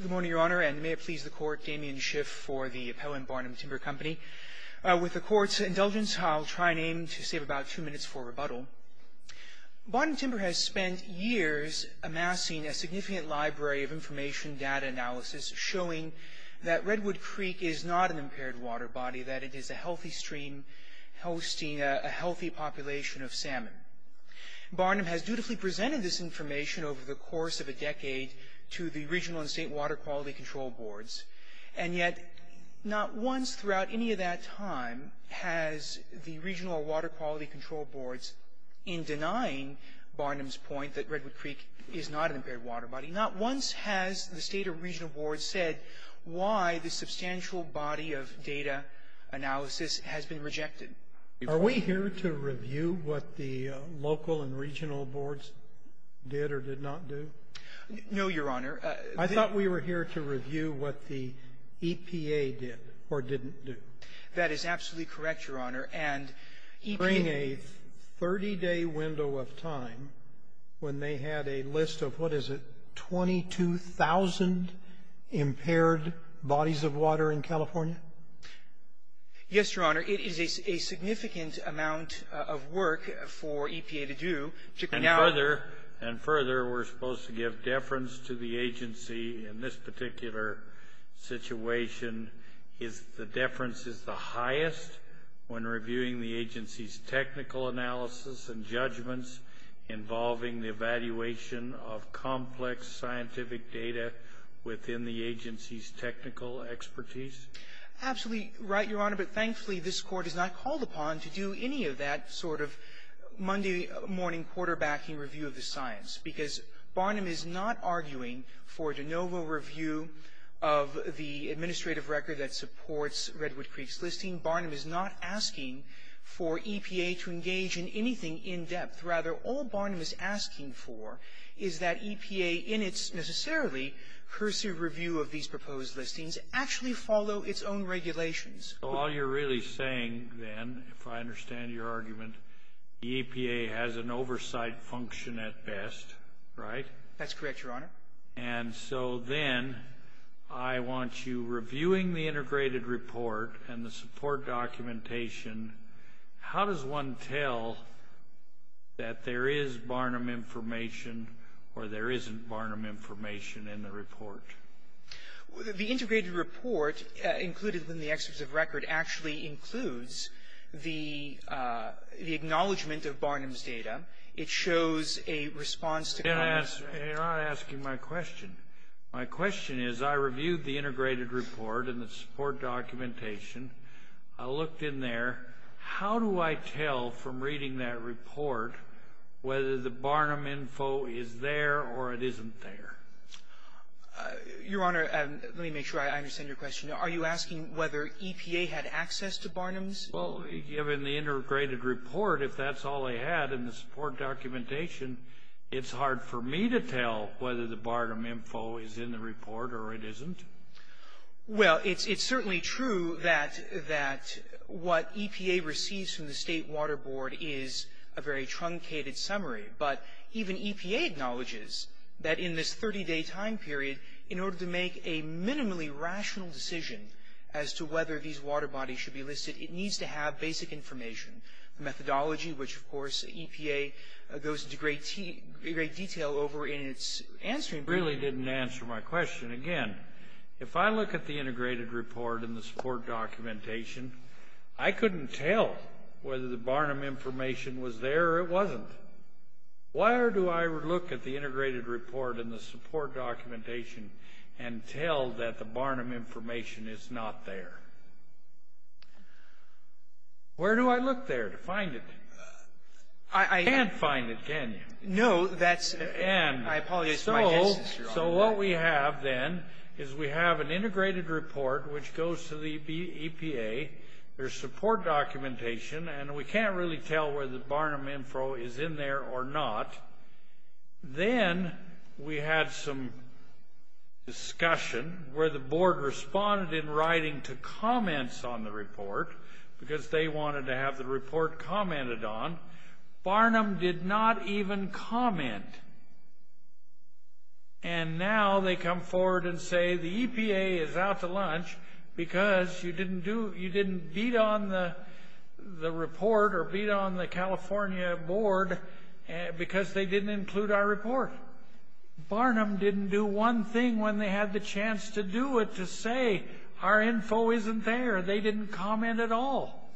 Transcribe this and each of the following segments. Good morning, Your Honour, and may it please the Court, Damien Schiff for the Appellant Barnum Timber Company. With the Court's indulgence, I'll try and aim to save about two minutes for rebuttal. Barnum Timber has spent years amassing a significant library of information data analysis showing that Redwood Creek is not an impaired water body, that it is a healthy stream hosting a healthy population of salmon. Barnum has dutifully presented this information over the course of a decade to the Regional and State Water Quality Control Boards, and yet not once throughout any of that time has the Regional or Water Quality Control Boards, in denying Barnum's point that Redwood Creek is not an impaired water body, not once has the State or Regional Boards said why this substantial body of data analysis has been rejected. Are we here to review what the local and regional boards did or did not do? No, Your Honor. I thought we were here to review what the EPA did or didn't do. That is absolutely correct, Your Honor, and EPA — During a 30-day window of time when they had a list of, what is it, 22,000 impaired bodies of water in California? Yes, Your Honor, it is a significant amount of work for EPA to do, particularly now — And further, we're supposed to give deference to the agency in this particular situation. The deference is the highest when reviewing the agency's technical analysis and judgments involving the evaluation of complex scientific data within the agency's technical expertise. Absolutely right, Your Honor, but thankfully, this Court is not called upon to do any of that sort of Monday-morning quarterbacking review of the science, because Barnum is not arguing for de novo review of the administrative record that supports Redwood Creek's listing. Barnum is not asking for EPA to engage in anything in-depth. Rather, all Barnum is asking for is that EPA, in its necessarily cursive review of these proposed listings, actually follow its own regulations. So all you're really saying, then, if I understand your argument, the EPA has an oversight function at best, right? That's correct, Your Honor. And so, then, I want you, reviewing the integrated report and the support documentation, how does one tell that there is Barnum information or there isn't Barnum information in the report? The integrated report, included in the excerpt of record, actually includes the acknowledgment of Barnum's data. It shows a response to — You're not asking my question. My question is, I reviewed the integrated report and the support documentation. I looked in there. How do I tell, from reading that report, whether the Barnum info is there or it isn't there? Your Honor, let me make sure I understand your question. Are you asking whether EPA had access to Barnum's? Well, given the integrated report, if that's all they had in the support documentation, it's hard for me to tell whether the Barnum info is in the report or it isn't. Well, it's certainly true that what EPA receives from the State Water Board is a very truncated summary, but even EPA acknowledges that in this 30-day time period, in order to make a minimally rational decision as to whether these water bodies should be listed, it needs to have basic information. The methodology, which of course EPA goes into great detail over in its answering Really didn't answer my question. Again, if I look at the integrated report and the support documentation, I couldn't tell whether the Barnum information was there or it wasn't. Why do I look at the integrated report and the support documentation and tell that the Barnum information is not there? Where do I look there to find it? I can't find it, can you? No, that's... And... I apologize for my distance. So what we have then is we have an integrated report which goes to the EPA, their support documentation, and we can't really tell whether the Barnum info is in there or not. Then we had some discussion where the board responded in writing to comments on the report because they wanted to have the report commented on. Barnum did not even comment. And now they come forward and say the EPA is out to lunch because you didn't do... They didn't include our report. Barnum didn't do one thing when they had the chance to do it to say our info isn't there. They didn't comment at all.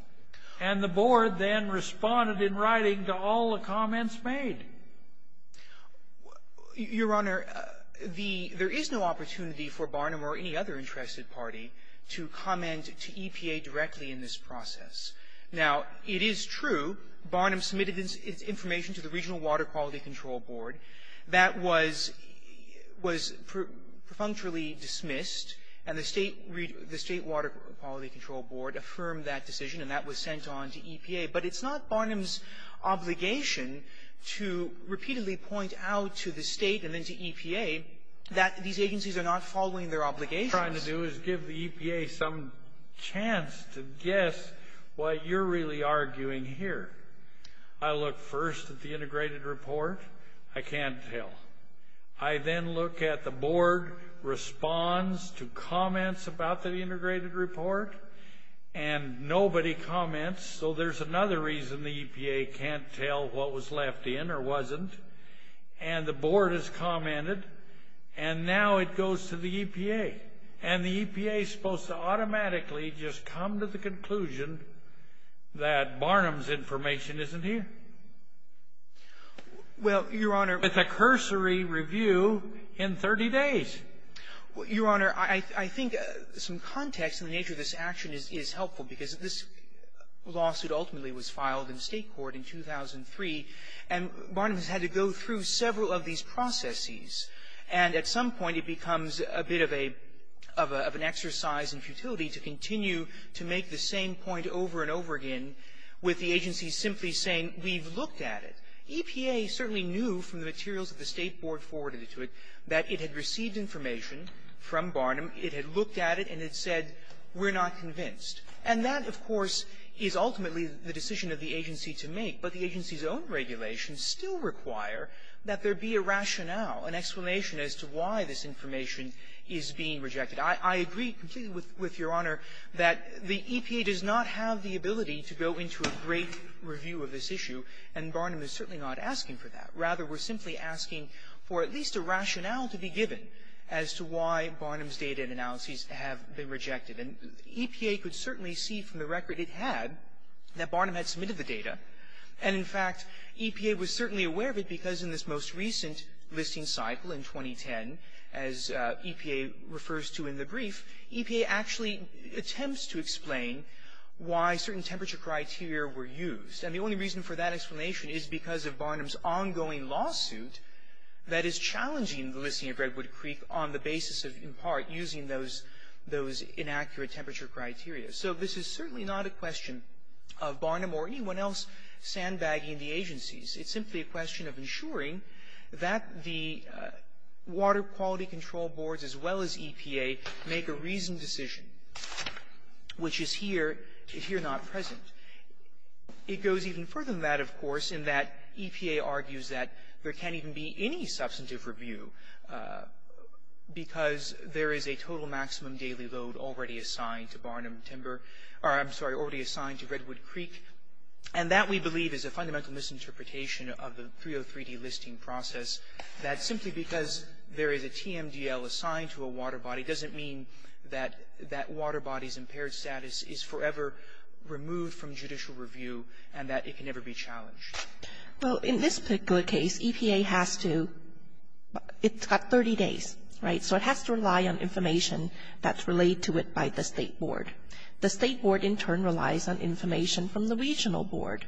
And the board then responded in writing to all the comments made. Your Honor, the... There is no opportunity for Barnum or any other interested party to comment to EPA directly in this process. Now, it is true Barnum submitted its information to the Regional Water Quality Control Board. That was perfunctorily dismissed, and the State Water Quality Control Board affirmed that decision, and that was sent on to EPA. But it's not Barnum's obligation to repeatedly point out to the state and then to EPA that these agencies are not following their obligations. What we're trying to do is give the EPA some chance to guess why you're really arguing here. I look first at the integrated report. I can't tell. I then look at the board responds to comments about the integrated report, and nobody comments, so there's another reason the EPA can't tell what was left in or wasn't. And the board has commented, and now it goes to the EPA. And the EPA is supposed to automatically just come to the conclusion that Barnum's information isn't here. Well, Your Honor... With a cursory review in 30 days. Your Honor, I think some context in the nature of this action is helpful because this lawsuit ultimately was filed in State court in 2003, and Barnum has had to go through several of these processes, and at some point, it becomes a bit of an exercise in futility to continue to make the same point over and over again with the agency simply saying, we've looked at it. EPA certainly knew from the materials that the State board forwarded to it that it had received information from Barnum, it had looked at it, and it said, we're not convinced. And that, of course, is ultimately the decision of the agency to make. But the agency's own regulations still require that there be a rationale, an explanation as to why this information is being rejected. I agree completely with Your Honor that the EPA does not have the ability to go into a great review of this issue, and Barnum is certainly not asking for that. Rather, we're simply asking for at least a rationale to be given as to why Barnum's data and analyses have been rejected. And EPA could certainly see from the record it had that Barnum had submitted the data. And in fact, EPA was certainly aware of it because in this most recent listing cycle in 2010, as EPA refers to in the brief, EPA actually attempts to explain why certain temperature criteria were used. And the only reason for that explanation is because of Barnum's ongoing lawsuit that is challenging the listing of Redwood Creek on the basis of, in part, using those inaccurate temperature criteria. So this is certainly not a question of Barnum or anyone else sandbagging the agencies. It's simply a question of ensuring that the Water Quality Control Boards as well as EPA make a reasoned decision, which is here, if you're not present. It goes even further than that, of course, in that EPA argues that there can't even be any substantive review because there is a total maximum daily load already assigned to Barnum Timber, or I'm sorry, already assigned to Redwood Creek. And that, we believe, is a fundamental misinterpretation of the 303D listing process, that simply because there is a TMDL assigned to a water body doesn't mean that that water body's impaired status is forever removed from judicial review and that it can never be challenged. Well, in this particular case, EPA has to, it's got 30 days, right? So it has to rely on information that's relayed to it by the State Board. The State Board, in turn, relies on information from the Regional Board.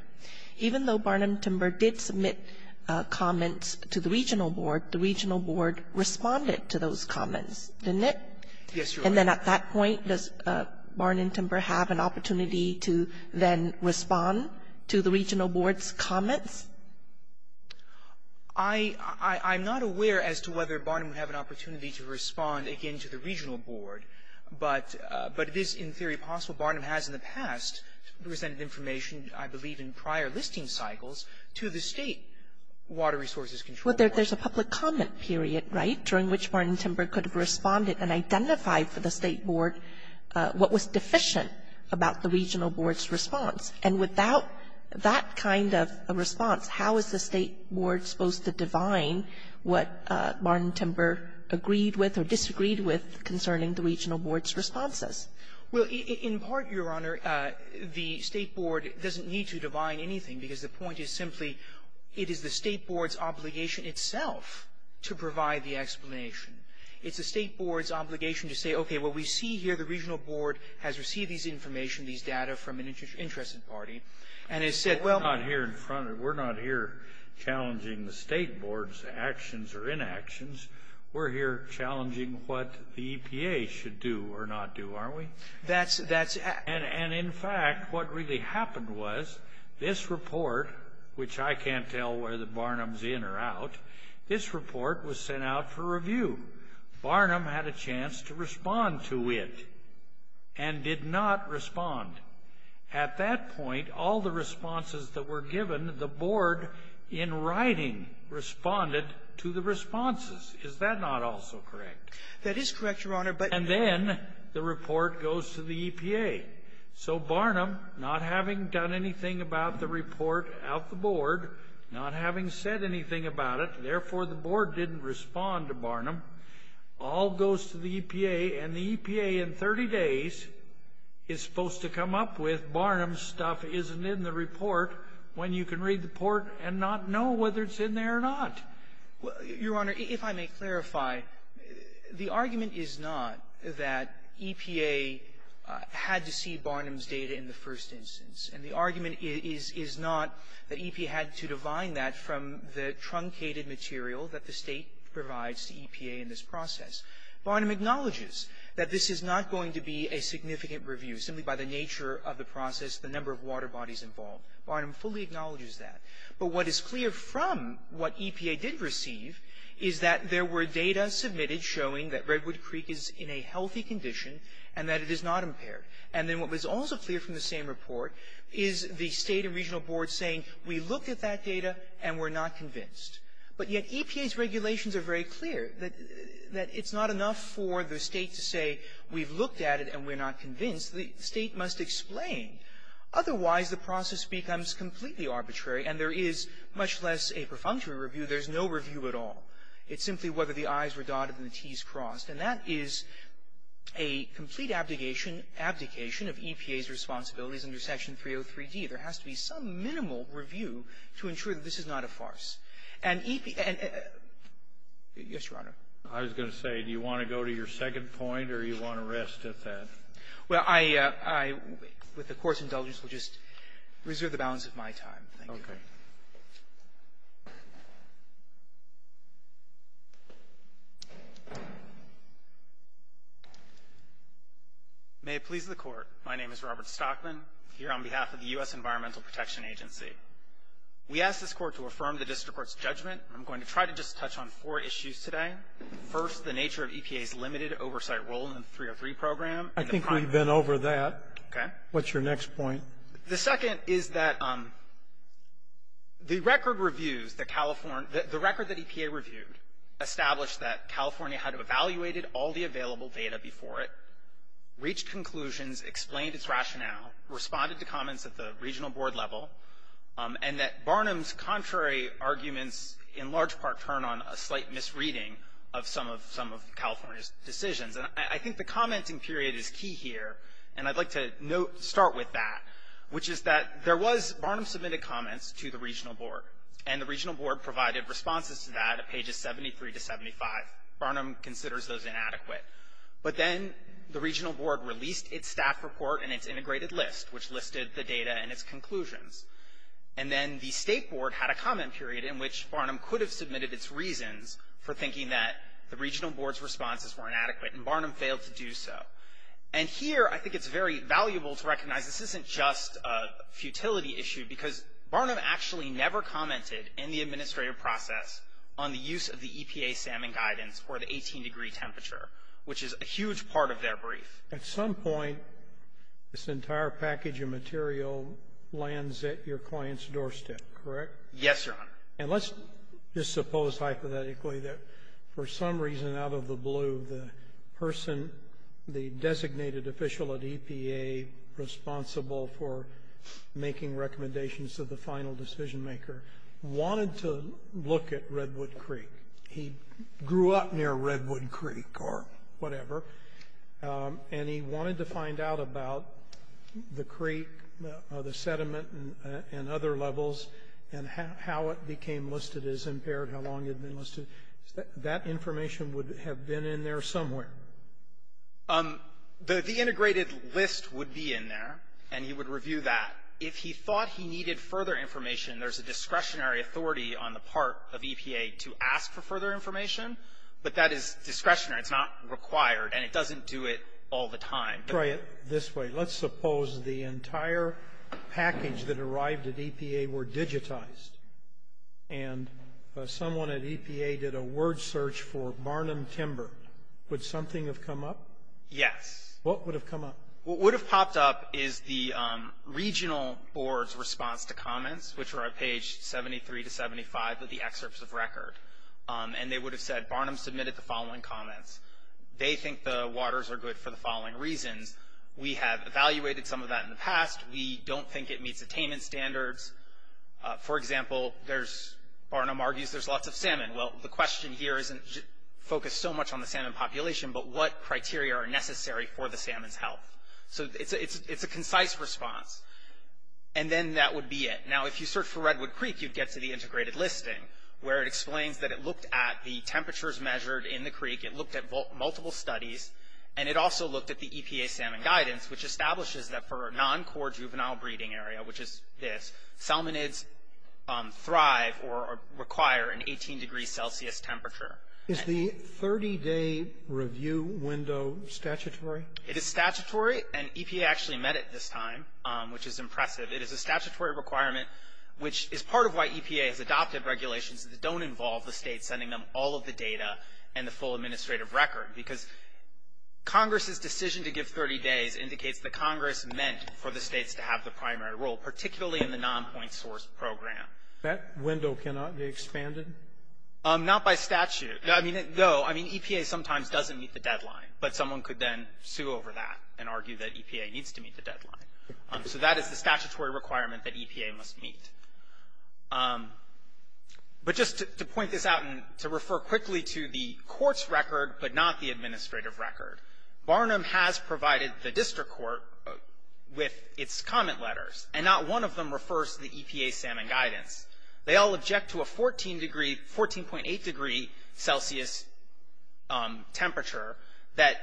Even though Barnum Timber did submit comments to the Regional Board, the Regional Board responded to those comments, didn't it? Yes, Your Honor. And then at that point, does Barnum Timber have an opportunity to then respond to the comments? I'm not aware as to whether Barnum would have an opportunity to respond, again, to the Regional Board, but it is in theory possible Barnum has in the past presented information, I believe, in prior listing cycles to the State Water Resources Control Board. Well, there's a public comment period, right, during which Barnum Timber could have responded and identified for the State Board what was deficient about the Regional Board's response. And without that kind of a response, how is the State Board supposed to divine what Barnum Timber agreed with or disagreed with concerning the Regional Board's responses? Well, in part, Your Honor, the State Board doesn't need to divine anything, because the point is simply it is the State Board's obligation itself to provide the explanation. It's the State Board's obligation to say, okay, what we see here, the Regional Board has received this information, this data from an interested party, and has said, well we're not here challenging the State Board's actions or inactions. We're here challenging what the EPA should do or not do, aren't we? And in fact, what really happened was this report, which I can't tell whether Barnum's in or out, this report was sent out for review. Barnum had a chance to respond to it and did not respond. At that point, all the responses that were given, the Board, in writing, responded to the responses. Is that not also correct? That is correct, Your Honor, but... And then the report goes to the EPA. So Barnum, not having done anything about the report out the board, not having said anything about it, therefore the Board didn't respond to Barnum, all goes to the EPA, and the EPA in 30 days is supposed to come up with Barnum's stuff isn't in the report when you can read the report and not know whether it's in there or not. Well, Your Honor, if I may clarify, the argument is not that EPA had to see Barnum's data in the first instance. And the argument is not that EPA had to divide that from the truncated material that the State provides to EPA in this process. Barnum acknowledges that this is not going to be a significant review simply by the nature of the process, the number of water bodies involved. Barnum fully acknowledges that. But what is clear from what EPA did receive is that there were data submitted showing that Redwood Creek is in a healthy condition and that it is not impaired. And then what was also clear from the same report is the State and regional boards saying, we looked at that data and we're not convinced. But yet EPA's regulations are very clear that it's not enough for the State to say we've looked at it and we're not convinced, the State must explain. Otherwise, the process becomes completely arbitrary and there is much less a perfunctory review, there's no review at all. It's simply whether the I's were dotted and the T's crossed. And that is a complete abdication of EPA's responsibilities under Section 303D. There has to be some minimal review to ensure that this is not a farce. And EPA and yes, Your Honor. Kennedy. I was going to say, do you want to go to your second point or do you want to rest at that? Well, I, with the Court's indulgence, will just reserve the balance of my time. Thank you. Okay. May it please the Court. My name is Robert Stockman. Here on behalf of the U.S. Environmental Protection Agency. We ask this Court to affirm the district court's judgment. I'm going to try to just touch on four issues today. First, the nature of EPA's limited oversight role in the 303 program. I think we've been over that. Okay. What's your next point? The second is that the record reviews that California, the record that EPA reviewed established that California had evaluated all the available data before it, reached conclusions, explained its rationale, responded to comments at the regional board level, and that Barnum's contrary arguments in large part turn on a slight misreading of some of California's decisions. And I think the commenting period is key here. And I'd like to note, start with that, which is that there was, Barnum submitted comments to the regional board. And the regional board provided responses to that at pages 73 to 75. Barnum considers those inadequate. But then the regional board released its staff report and its integrated list, which listed the data and its conclusions. And then the state board had a comment period in which Barnum could have submitted its reasons for thinking that the regional board's responses were inadequate. And Barnum failed to do so. And here, I think it's very valuable to recognize this isn't just a futility issue, because Barnum actually never commented in the administrative process on the use of the EPA salmon guidance for the 18-degree temperature, which is a huge part of their brief. At some point, this entire package of material lands at your client's doorstep, correct? Yes, Your Honor. And let's just suppose, hypothetically, that for some reason out of the blue, the person, the designated official at EPA responsible for making recommendations to the final decision maker, wanted to look at Redwood Creek. He grew up near Redwood Creek or whatever, and he wanted to find out about the creek, the sediment, and other levels, and how it became listed as impaired, how long it had been listed. That information would have been in there somewhere. The integrated list would be in there, and he would review that. If he thought he needed further information, there's a discretionary authority on the part of EPA to ask for further information, but that is discretionary. It's not required, and it doesn't do it all the time. Try it this way. Let's suppose the entire package that arrived at EPA were digitized, and someone at EPA did a word search for Barnum Timber. Would something have come up? Yes. What would have come up? What would have popped up is the regional board's response to comments, which are on page 73 to 75 of the excerpts of record. And they would have said, Barnum submitted the following comments. They think the waters are good for the following reasons. We have evaluated some of that in the past. We don't think it meets attainment standards. For example, Barnum argues there's lots of salmon. Well, the question here isn't focused so much on the salmon population, but what criteria are necessary for the salmon's health. So it's a concise response. And then that would be it. Now, if you search for Redwood Creek, you'd get to the integrated listing, where it explains that it looked at the temperatures measured in the creek. It looked at multiple studies, and it also looked at the EPA salmon guidance, which establishes that for a non-core juvenile breeding area, which is this, salmonids thrive or require an 18-degree Celsius temperature. Is the 30-day review window statutory? It is statutory, and EPA actually met it this time, which is impressive. It is a statutory requirement, which is part of why EPA has adopted regulations that don't involve the state sending them all of the data and the full administrative record, because Congress's decision to give 30 days indicates that Congress meant for the states to have the primary role, particularly in the non-point source program. That window cannot be expanded? Not by statute. I mean, no. I mean, EPA sometimes doesn't meet the deadline, but someone could then sue over that and argue that EPA needs to meet the deadline. So that is the statutory requirement that EPA must meet. But just to point this out and to refer quickly to the court's record, but not the administrative record, Barnum has provided the district court with its comment letters, and not one of them refers to the EPA salmon guidance. They all object to a 14-degree, 14.8-degree Celsius temperature that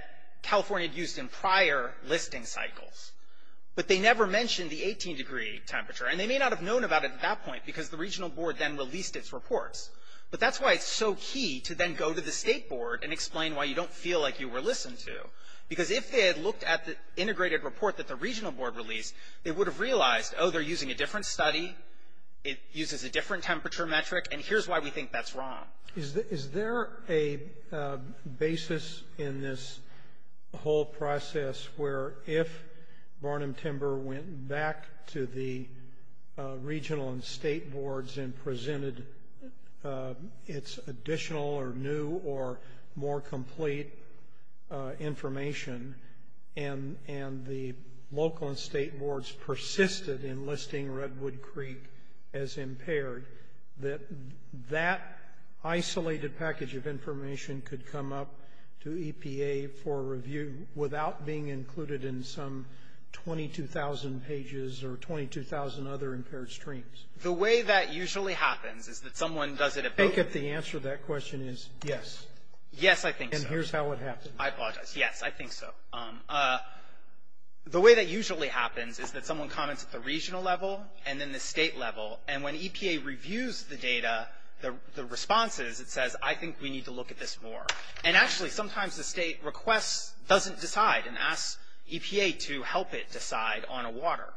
California used in prior listing cycles. But they never mentioned the 18-degree temperature, and they may not have known about it at that point because the regional board then released its reports. But that's why it's so key to then go to the state board and explain why you don't feel like you were listened to. Because if they had looked at the integrated report that the regional board released, they would have realized, oh, they're using a different study, it uses a different temperature metric, and here's why we think that's wrong. Is there a basis in this whole process where if Barnum Timber went back to the regional and state boards and presented its additional or new or more complete information, and the local and state boards persisted in listing Redwood Creek as impaired, that that isolated package of information could come up to EPA for review without being included in some 22,000 pages or 22,000 other impaired streams? The way that usually happens is that someone does it at both of them. I think that the answer to that question is yes. Yes, I think so. And here's how it happens. I apologize. Yes, I think so. The way that usually happens is that someone comments at the regional level and then the state level. And when EPA reviews the data, the responses, it says, I think we need to look at this more. And actually, sometimes the state requests, doesn't decide and asks EPA to help it decide on a water.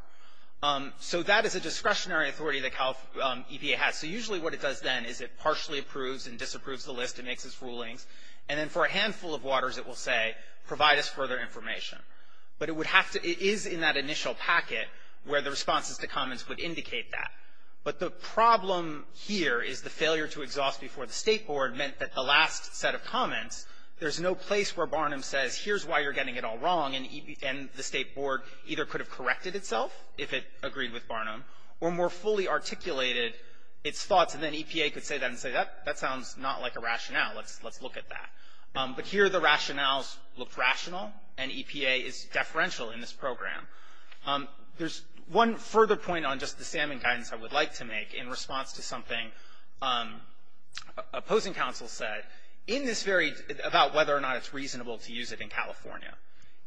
So that is a discretionary authority that EPA has. So usually what it does then is it partially approves and disapproves the list and makes its rulings. And then for a handful of waters, it will say, provide us further information. But it would have to, it is in that initial packet where the responses to comments would indicate that. But the problem here is the failure to exhaust before the state board meant that the last set of comments, there's no place where Barnum says, here's why you're getting it all wrong. And the state board either could have corrected itself if it agreed with Barnum, or more fully articulated its thoughts. And then EPA could say that and say, that sounds not like a rationale. Let's look at that. But here, the rationales look rational. And EPA is deferential in this program. There's one further point on just the salmon guidance I would like to make in response to something opposing counsel said in this very, about whether or not it's reasonable to use it in California.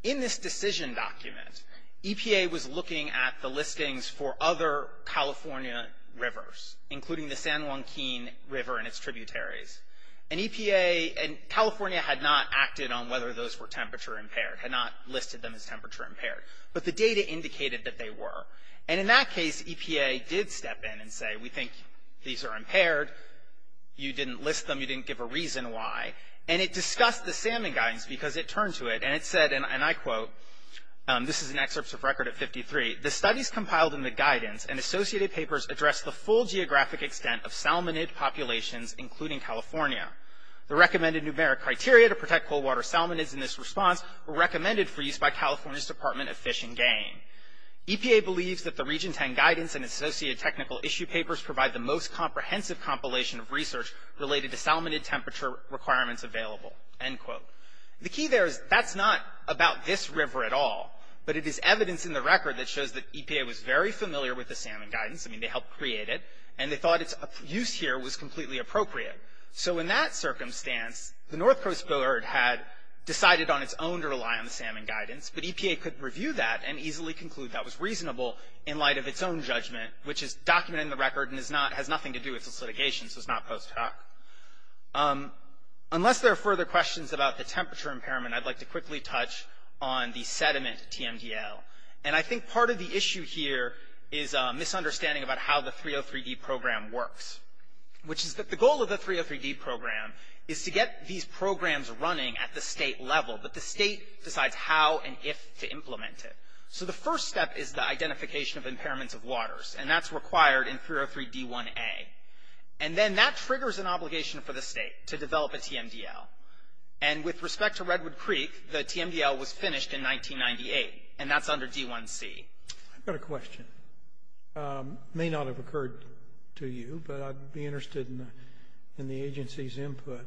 In this decision document, EPA was looking at the listings for other California rivers, including the San Joaquin River and its tributaries. And EPA, and California had not acted on whether those were temperature impaired, had not listed them as temperature impaired. But the data indicated that they were. And in that case, EPA did step in and say, we think these are impaired. You didn't list them. You didn't give a reason why. And it discussed the salmon guidance because it turned to it. And it said, and I quote, this is an excerpt of record of 53. The studies compiled in the guidance and associated papers address the full geographic extent of salmonid populations, including California. The recommended numeric criteria to protect cold water salmonids in this response were recommended for use by California's Department of Fish and Game. EPA believes that the Region 10 guidance and associated technical issue papers provide the most comprehensive compilation of research related to salmonid temperature requirements available. End quote. The key there is that's not about this river at all. But it is evidence in the record that shows that EPA was very familiar with the salmon guidance. I mean, they helped create it. And they thought its use here was completely appropriate. So in that circumstance, the North Coast Board had decided on its own to rely on the salmon guidance. But EPA could review that and easily conclude that was reasonable in light of its own judgment, which is documented in the record and has nothing to do with this litigation. So it's not post hoc. Unless there are further questions about the temperature impairment, I'd like to quickly touch on the sediment TMDL. And I think part of the issue here is a misunderstanding about how the 303D program works, which is that the goal of the 303D program is to get these programs running at the state level. But the state decides how and if to implement it. So the first step is the identification of impairments of waters. And that's required in 303D1A. And then that triggers an obligation for the state to develop a TMDL. And with respect to Redwood Creek, the TMDL was finished in 1998. And that's under D1C. I've got a question. May not have occurred to you, but I'd be interested in the agency's input.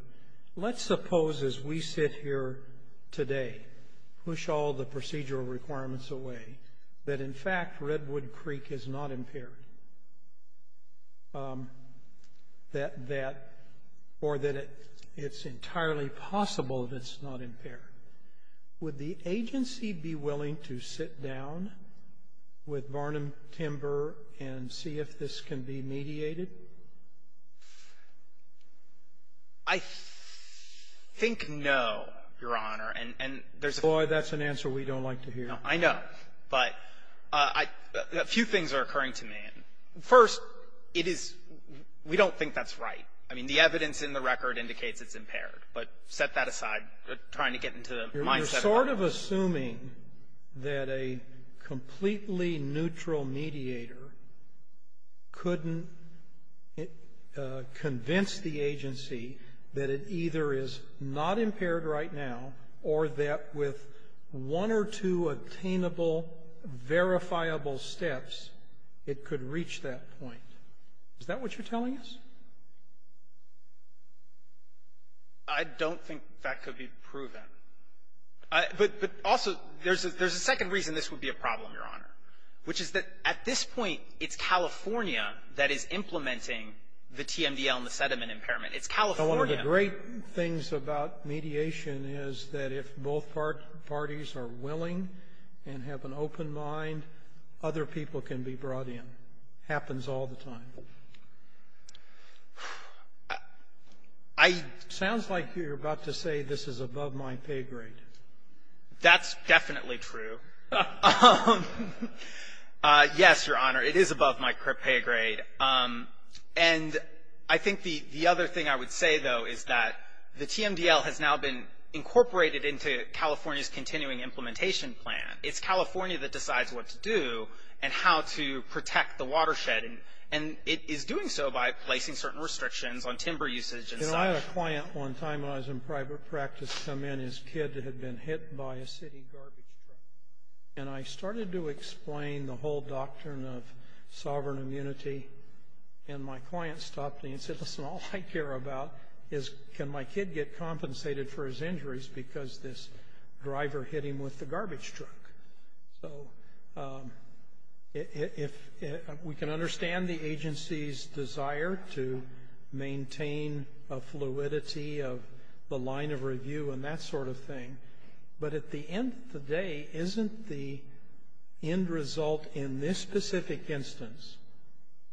Let's suppose as we sit here today, push all the procedural requirements away, that in fact, Redwood Creek is not impaired, or that it's entirely possible that it's not impaired. Would the agency be willing to sit down with Barnum Timber and see if this can be mediated? I think no, Your Honor, and there's a Boy, that's an answer we don't like to hear. No, I know. But a few things are occurring to me. First, it is, we don't think that's right. I mean, the evidence in the record indicates it's impaired. But set that aside. We're trying to get into the mindset of assuming that a completely neutral mediator couldn't convince the agency that it either is not impaired right now, or that with one or two attainable, verifiable steps, it could reach that point. Is that what you're telling us? I don't think that could be proven. But also, there's a second reason this would be a problem, Your Honor, which is that at this point, it's California that is implementing the TMDL and the sediment impairment. It's California. One of the great things about mediation is that if both parties are willing and have an open mind, other people can be brought in. Happens all the time. Sounds like you're about to say this is above my pay grade. That's definitely true. Yes, Your Honor, it is above my pay grade. And I think the other thing I would say, though, is that the TMDL has now been incorporated into California's continuing implementation plan. It's California that decides what to do and how to protect the watershed. And it is doing so by placing certain restrictions on timber usage and such. You know, I had a client one time when I was in private practice come in. His kid had been hit by a city garbage truck. And I started to explain the whole doctrine of sovereign immunity. And my client stopped me and said, listen, all I care about is can my kid get compensated for his injuries because this driver hit him with the garbage truck? So if we can understand the agency's desire to maintain a fluidity of the line of review and that sort of thing. But at the end of the day, isn't the end result in this specific instance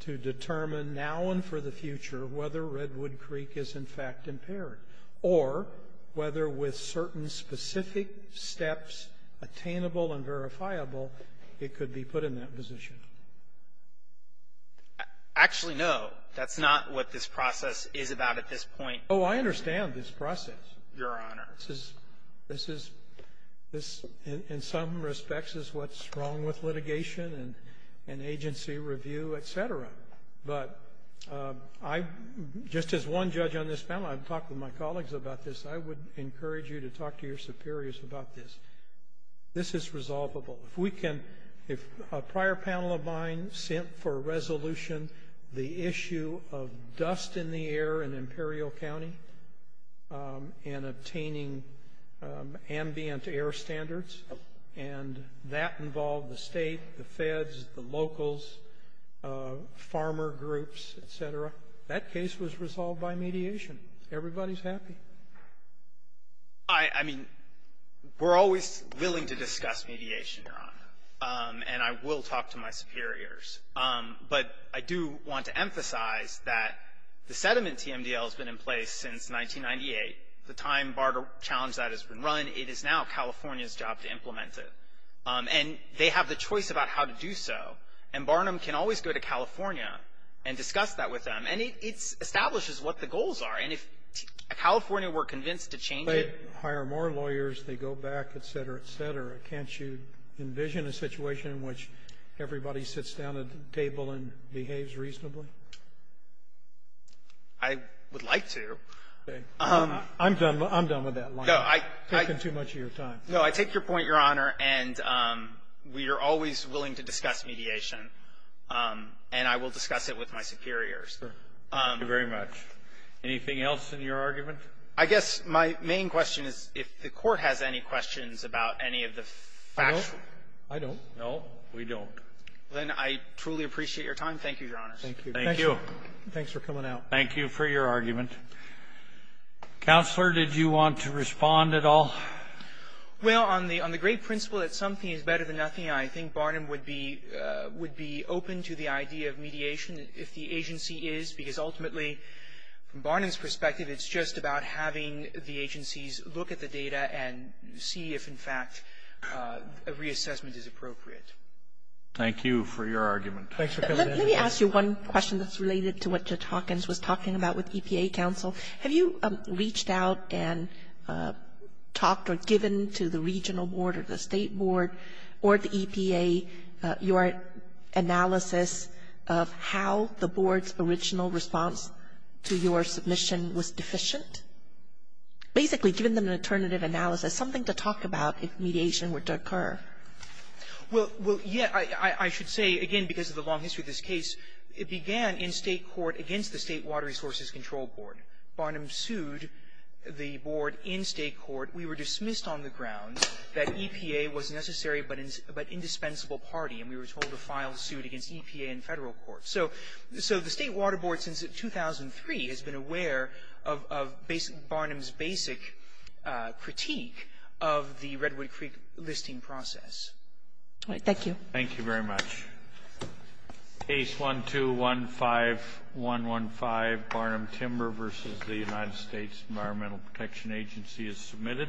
to determine now and for the future whether Redwood Creek is in fact impaired? Or whether with certain specific steps attainable and verifiable, it could be put in that position? Actually, no. That's not what this process is about at this point. Oh, I understand this process. Your Honor. This is — this is — this, in some respects, is what's wrong with litigation and agency review, et cetera. But I — just as one judge on this panel, I've talked with my colleagues about this. I would encourage you to talk to your superiors about this. This is resolvable. If we can — if a prior panel of mine sent for a resolution, the issue of dust in the air in Imperial County and obtaining ambient air standards. And that involved the State, the Feds, the locals, farmer groups, et cetera. That case was resolved by mediation. Everybody's happy. I — I mean, we're always willing to discuss mediation, Your Honor, and I will talk to my superiors. But I do want to emphasize that the sediment TMDL has been in place since 1998. The time BARDA challenged that has been run. It is now California's job to implement it. And they have the choice about how to do so. And Barnum can always go to California and discuss that with them. And it — it establishes what the goals are. And if California were convinced to change it — But they hire more lawyers. They go back, et cetera, et cetera. Can't you envision a situation in which everybody sits down at the table and behaves reasonably? I would like to. I'm done. I'm done with that line. No, I — You're taking too much of your time. No, I take your point, Your Honor. And we are always willing to discuss mediation. And I will discuss it with my superiors. Thank you very much. Anything else in your argument? I guess my main question is if the Court has any questions about any of the factual. I don't. No, we don't. Well, then, I truly appreciate your time. Thank you, Your Honor. Thank you. Thank you. Thanks for coming out. Thank you for your argument. Counselor, did you want to respond at all? Well, on the — on the great principle that something is better than nothing, I think Barnum would be — would be open to the idea of mediation if the agency is. Because ultimately, from Barnum's perspective, it's just about having the agencies look at the data and see if, in fact, a reassessment is appropriate. Thank you for your argument. Thanks for coming in. Let me ask you one question that's related to what Judge Hawkins was talking about with EPA counsel. Have you reached out and talked or given to the regional board or the state board or the EPA your analysis of how the board's original response to your submission was deficient? Basically, given them an alternative analysis, something to talk about if mediation were to occur. Well, yeah. I should say, again, because of the long history of this case, it began in state court against the State Water Resources Control Board. Barnum sued the board in state court. We were dismissed on the grounds that EPA was a necessary but indispensable party, and we were told to file suit against EPA in federal court. So the State Water Board, since 2003, has been aware of Barnum's basic critique of the Redwood Creek listing process. All right. Thank you. Thank you very much. Case 1215115, Barnum Timber versus the United States Environmental Protection Agency is submitted.